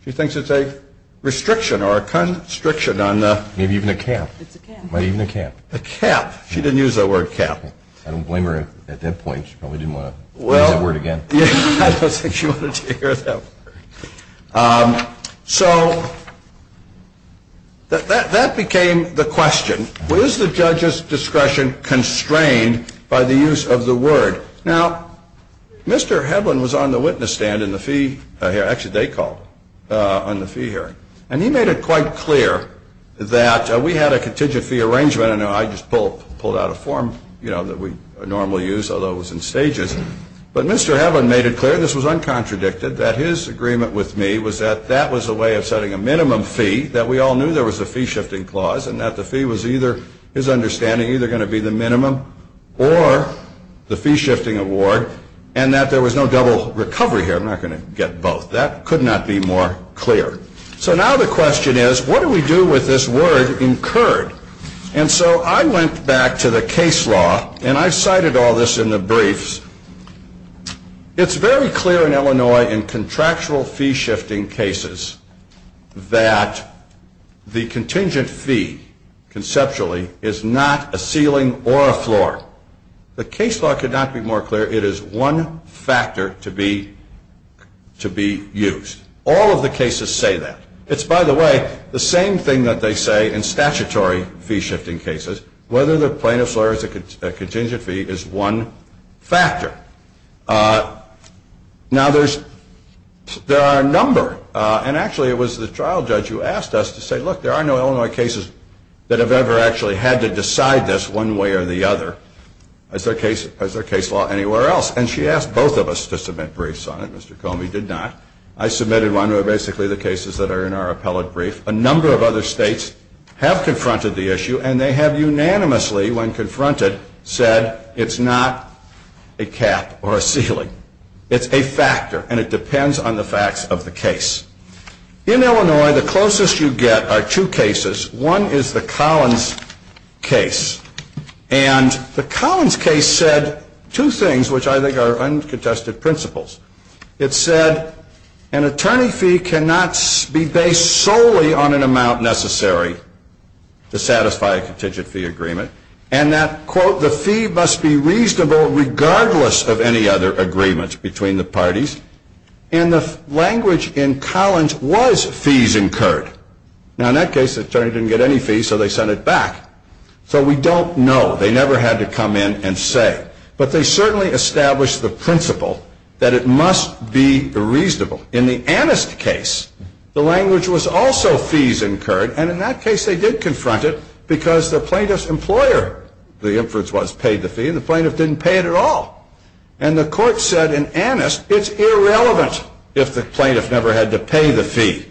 She thinks it's a restriction or a constriction on the... Maybe even a cap. It's a cap. Maybe even a cap. A cap. She didn't use the word cap. I don't blame her at that point. She probably didn't want to use that word again. Well, I don't think she wanted to hear that word. So that became the question. Was the judge's discretion constrained by the use of the word? Now, Mr. Heblin was on the witness stand in the fee... Actually, they called on the fee hearing. And he made it quite clear that we had a contingent fee arrangement, and I just pulled out a form that we normally use, although it was in stages. But Mr. Heblin made it clear, this was uncontradicted, that his agreement with me was that that was a way of setting a minimum fee, that we all knew there was a fee-shifting clause, and that the fee was either, his understanding, either going to be the minimum or the fee-shifting award, and that there was no double recovery here. I'm not going to get both. That could not be more clear. So now the question is, what do we do with this word incurred? And so I went back to the case law, and I cited all this in the briefs. It's very clear in Illinois in contractual fee-shifting cases that the contingent fee, conceptually, is not a ceiling or a floor. The case law could not be more clear. It is one factor to be used. All of the cases say that. It's, by the way, the same thing that they say in statutory fee-shifting cases, whether the plaintiff's lawyer has a contingent fee is one factor. Now, there are a number. And actually, it was the trial judge who asked us to say, look, there are no Illinois cases that have ever actually had to decide this one way or the other as their case law anywhere else. And she asked both of us to submit briefs on it. Mr. Comey did not. I submitted one of basically the cases that are in our appellate brief. A number of other states have confronted the issue, and they have unanimously, when confronted, said it's not a cap or a ceiling. It's a factor, and it depends on the facts of the case. In Illinois, the closest you get are two cases. One is the Collins case. And the Collins case said two things, which I think are uncontested principles. It said an attorney fee cannot be based solely on an amount necessary to satisfy a contingent fee agreement. And that, quote, the fee must be reasonable regardless of any other agreements between the parties. And the language in Collins was fees incurred. Now, in that case, the attorney didn't get any fees, so they sent it back. So we don't know. They never had to come in and say. But they certainly established the principle that it must be reasonable. In the Annist case, the language was also fees incurred. And in that case, they did confront it because the plaintiff's employer, the inference was, paid the fee, and the plaintiff didn't pay it at all. And the court said in Annist it's irrelevant if the plaintiff never had to pay the fee.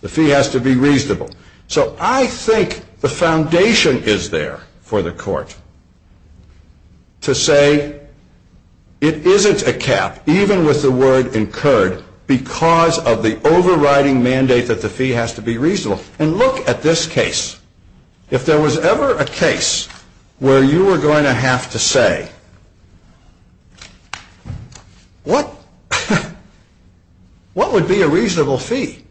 The fee has to be reasonable. So I think the foundation is there for the court. To say it isn't a cap, even with the word incurred, because of the overriding mandate that the fee has to be reasonable. And look at this case. If there was ever a case where you were going to have to say, what would be a reasonable fee?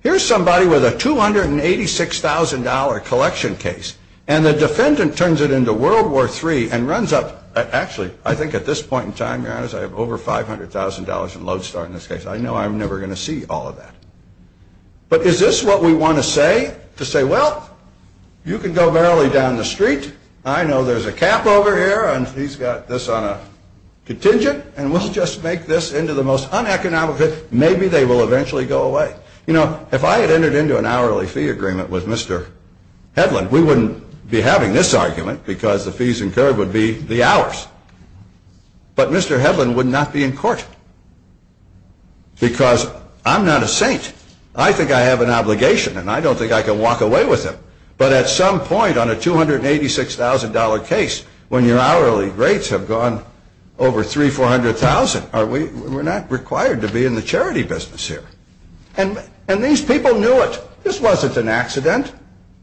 Here's somebody with a $286,000 collection case, and the defendant turns it into World War III, and runs up, actually, I think at this point in time, I have over $500,000 in lodestar in this case. I know I'm never going to see all of that. But is this what we want to say? To say, well, you can go barely down the street. I know there's a cap over here, and he's got this on a contingent, and we'll just make this into the most uneconomic. Maybe they will eventually go away. You know, if I had entered into an hourly fee agreement with Mr. Hedlund, we wouldn't be having this argument, because the fees incurred would be the hours. But Mr. Hedlund would not be in court, because I'm not a saint. I think I have an obligation, and I don't think I can walk away with it. But at some point on a $286,000 case, when your hourly rates have gone over $300,000, $400,000, we're not required to be in the charity business here. And these people knew it. This wasn't an accident.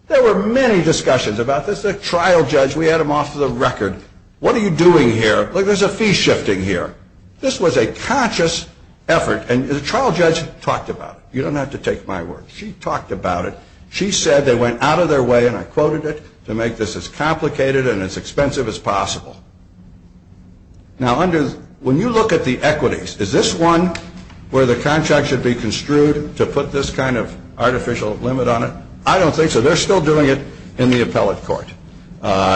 There were many discussions about this. The trial judge, we had him off the record. What are you doing here? Look, there's a fee shifting here. This was a conscious effort, and the trial judge talked about it. You don't have to take my word. She talked about it. She said they went out of their way, and I quoted it, to make this as complicated and as expensive as possible. Now, when you look at the equities, is this one where the contract should be construed to put this kind of artificial limit on it? I don't think so. They're still doing it in the appellate court.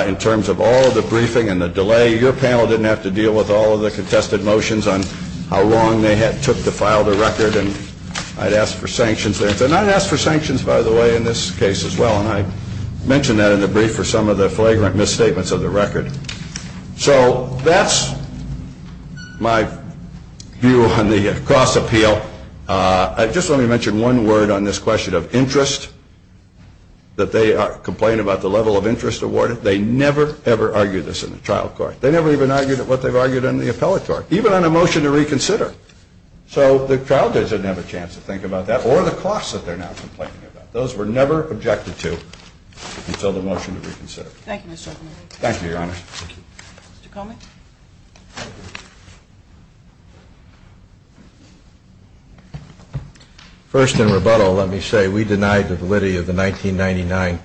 In terms of all of the briefing and the delay, your panel didn't have to deal with all of the contested motions on how long they had took to file the record. And I'd ask for sanctions there. And I'd ask for sanctions, by the way, in this case as well. And I mentioned that in the brief for some of the flagrant misstatements of the record. So that's my view on the cost appeal. Just let me mention one word on this question of interest, that they complain about the level of interest awarded. They never, ever argued this in the trial court. They never even argued what they've argued in the appellatory, even on a motion to reconsider. So the trial judge didn't have a chance to think about that, or the cost that they're now complaining about. Those were never objected to until the motion to reconsider. Thank you, Mr. O'Connor. Thank you, Your Honor. Mr. Komen? First, in rebuttal, let me say we denied the validity of the 1999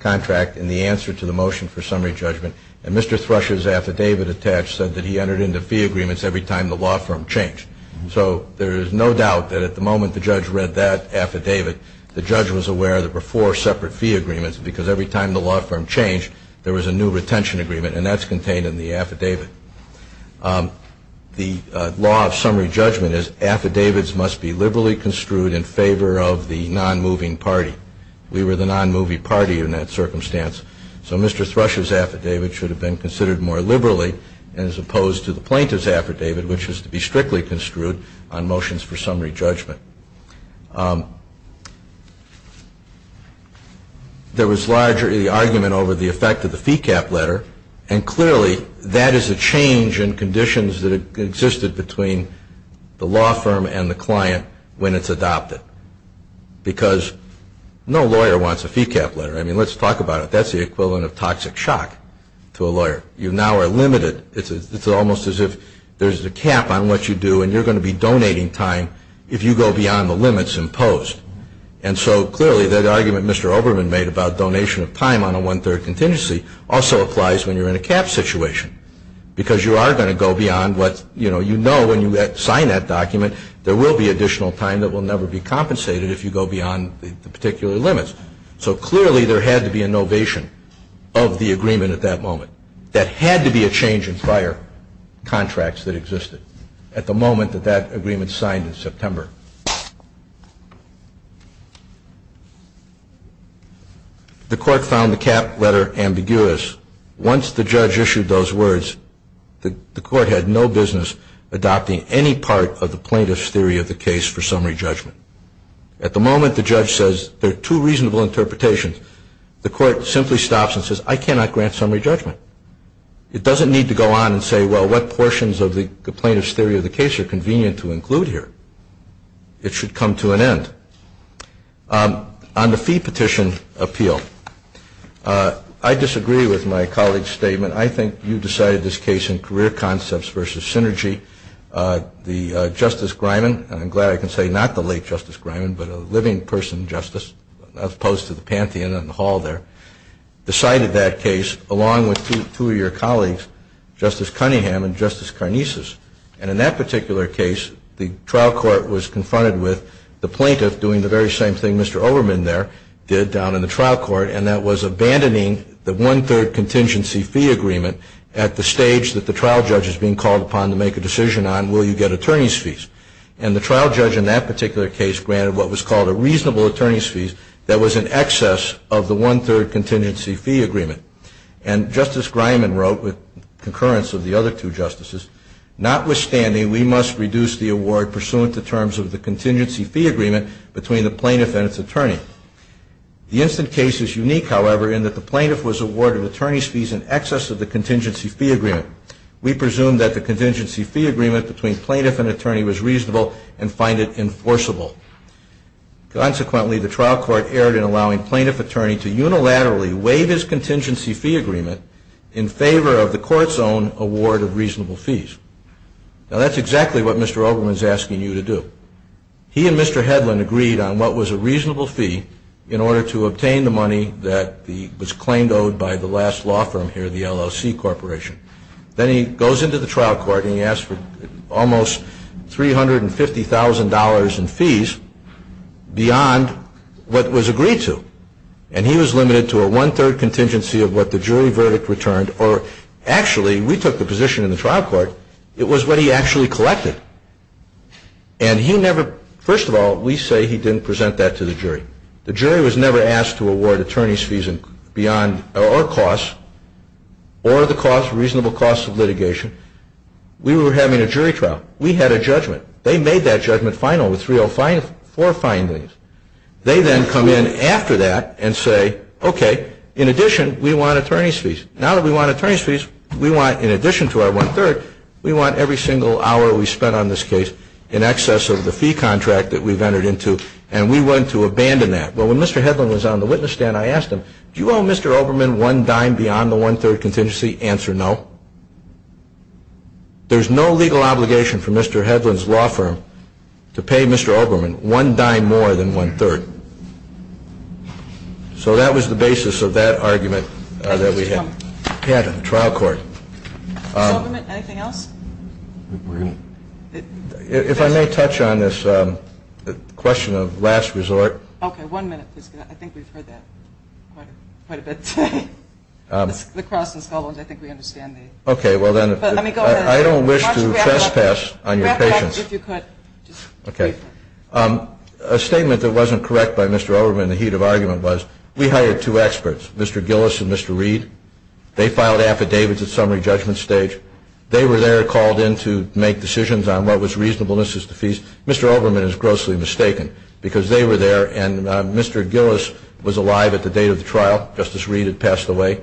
contract in the answer to the motion for summary judgment. And Mr. Thrush's affidavit attached said that he entered into fee agreements every time the law firm changed. So there is no doubt that at the moment the judge read that affidavit, the judge was aware that there were four separate fee agreements because every time the law firm changed, there was a new retention agreement. And that's contained in the affidavit. The law of summary judgment is affidavits must be liberally construed in favor of the non-moving party. We were the non-moving party in that circumstance. So Mr. Thrush's affidavit should have been considered more liberally as opposed to the plaintiff's affidavit, which is to be strictly construed on motions for summary judgment. There was larger argument over the effect of the fee cap letter. And clearly, that is a change in conditions that existed between the law firm and the client when it's adopted. Because no lawyer wants a fee cap letter. I mean, let's talk about it. That's the equivalent of toxic shock to a lawyer. You now are limited. It's almost as if there's a cap on what you do and you're going to be donating time if you go beyond the limits imposed. And so clearly, that argument Mr. Oberman made about donation of time on a one-third contingency also applies when you're in a cap situation because you are going to go beyond what, you know, you know when you sign that document, there will be additional time that will never be compensated if you go beyond the particular limits. So clearly, there had to be a novation of the agreement at that moment. That had to be a change in prior contracts that existed at the moment that that agreement signed in September. The court found the cap letter ambiguous. Once the judge issued those words, the court had no business adopting any part of the plaintiff's theory of the case for summary judgment. At the moment, the judge says there are two reasonable interpretations. The court simply stops and says, I cannot grant summary judgment. It doesn't need to go on and say, well, what portions of the plaintiff's theory of the case are convenient to include here. It should come to an end. On the fee petition appeal, I disagree with my colleague's statement. I think you decided this case in career concepts versus synergy. The Justice Griman, and I'm glad I can say not the late Justice Griman, but a living person justice, as opposed to the pantheon and the hall there, decided that case along with two of your colleagues, Justice Cunningham and Justice Karnesis. And in that particular case, the trial court was confronted with the plaintiff doing the very same thing Mr. Overman there did down in the trial court, and that was abandoning the one-third contingency fee agreement at the stage that the trial judge is being called upon to make a decision on, will you get attorney's fees? And the trial judge in that particular case granted what was called a reasonable attorney's fees that was in excess of the one-third contingency fee agreement. And Justice Griman wrote, with concurrence of the other two justices, notwithstanding, we must reduce the award pursuant to terms of the contingency fee agreement between the plaintiff and its attorney. The instant case is unique, however, in that the plaintiff was awarded attorney's fees in excess of the contingency fee agreement. We presume that the contingency fee agreement between plaintiff and attorney was reasonable and find it enforceable. Consequently, the trial court erred in allowing plaintiff attorney to unilaterally waive his contingency fee agreement in favor of the court's own award of reasonable fees. Now, that's exactly what Mr. Oberman is asking you to do. He and Mr. Hedlund agreed on what was a reasonable fee in order to obtain the money that was claimed owed by the last law firm here, the LLC Corporation. Then he goes into the trial court and he asks for almost $350,000 in fees beyond what was agreed to. And he was limited to a one-third contingency of what the jury verdict returned, or actually, we took the position in the trial court, it was what he actually collected. And he never, first of all, we say he didn't present that to the jury. The jury was never asked to award attorney's fees beyond, or costs, or the cost, reasonable cost of litigation. We were having a jury trial. We had a judgment. They made that judgment final with three or four findings. They then come in after that and say, okay, in addition, we want attorney's fees. Now that we want attorney's fees, we want, in addition to our one-third, we want every single hour we spent on this case in excess of the fee contract that we've entered into. And we want to abandon that. But when Mr. Hedlund was on the witness stand, I asked him, do you owe Mr. Oberman one dime beyond the one-third contingency? Answer, no. There's no legal obligation for Mr. Hedlund's law firm to pay Mr. Oberman one dime more than one-third. So that was the basis of that argument that we had in the trial court. Mr. Oberman, anything else? If I may touch on this question of last resort. Okay. One minute, please. I think we've heard that quite a bit. Lacrosse and sculling, I think we understand. Okay. Well, then, I don't wish to trespass on your patience. If you could. Okay. A statement that wasn't correct by Mr. Oberman in the heat of argument was, we hired two experts, Mr. Gillis and Mr. Reed. They filed affidavits at summary judgment stage. They were there, called in to make decisions on what was reasonableness as to fees. Mr. Oberman is grossly mistaken, because they were there, and Mr. Gillis was alive at the date of the trial. Justice Reed had passed away.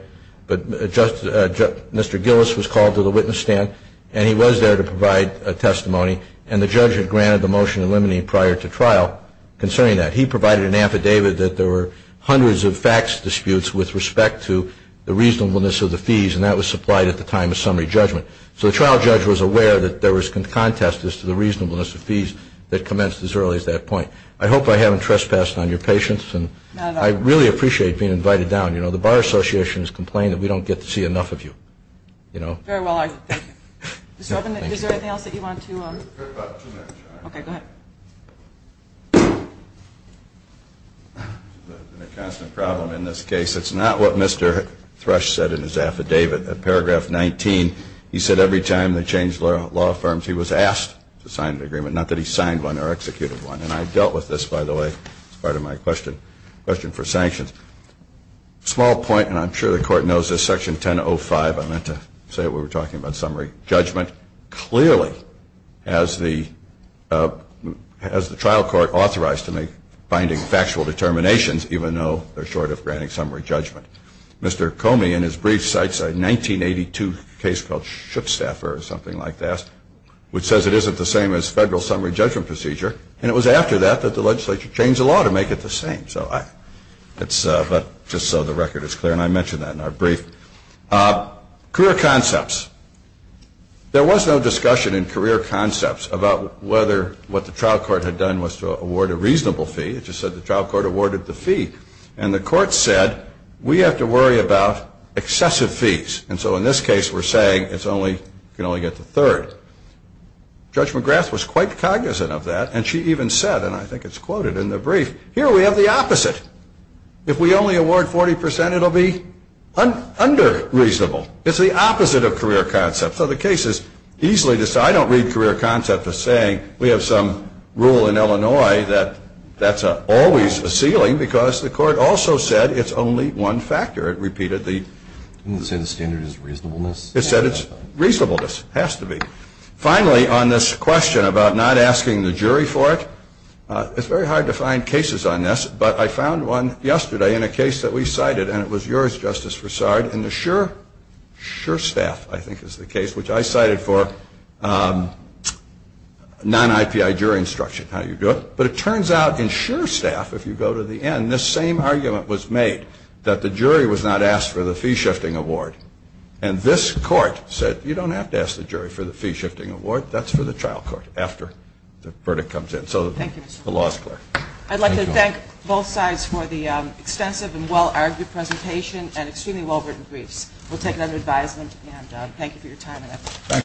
But Mr. Gillis was called to the witness stand, and he was there to provide a testimony. And the judge had granted the motion in limine prior to trial concerning that. He provided an affidavit that there were hundreds of facts disputes with respect to the reasonableness of the fees, and that was supplied at the time of summary judgment. So the trial judge was aware that there was contest as to the reasonableness of fees that commenced as early as that point. I hope I haven't trespassed on your patience. Not at all. I really appreciate being invited down. The Bar Association has complained that we don't get to see enough of you. Very well argued. Mr. Oberman, is there anything else that you want to? I've got about two minutes. Okay, go ahead. It's a constant problem in this case. It's not what Mr. Thrush said in his affidavit. At paragraph 19, he said every time they changed law firms, he was asked to sign an agreement. Not that he signed one or executed one. And I dealt with this, by the way, as part of my question. Question for sanctions. Small point, and I'm sure the court knows this. Section 1005, I meant to say it when we were talking about summary judgment, clearly has the trial court authorized to make binding factual determinations, even though they're short of granting summary judgment. Mr. Comey, in his brief, cites a 1982 case called Shuttstaffer or something like that, which says it isn't the same as federal summary judgment procedure, and it was after that that the legislature changed the law to make it the same. But just so the record is clear, and I mentioned that in our brief. Career concepts. There was no discussion in career concepts about whether what the trial court had done was to award a reasonable fee. It just said the trial court awarded the fee. And the court said, we have to worry about excessive fees. And so in this case, we're saying it can only get to third. Judge McGrath was quite cognizant of that, and she even said, and I think it's quoted in the brief, here we have the opposite. If we only award 40%, it'll be under-reasonable. It's the opposite of career concepts. So the case is easily decided. I don't read career concepts as saying we have some rule in Illinois that that's always a ceiling, because the court also said it's only one factor. It repeated the... Didn't it say the standard is reasonableness? It said it's reasonableness. Has to be. Finally, on this question about not asking the jury for it, it's very hard to find cases on this, but I found one yesterday in a case that we cited, and it was yours, Justice Broussard, in the Sure Staff, I think is the case, which I cited for non-IPI jury instruction, how you do it. But it turns out in Sure Staff, if you go to the end, this same argument was made, that the jury was not asked for the fee-shifting award. And this court said, you don't have to ask the jury for the fee-shifting award. That's for the trial court, after the verdict comes in. So the law is clear. I'd like to thank both sides for the extensive and well-argued presentation and extremely well-written briefs. We'll take another advisement, and thank you for your time and effort.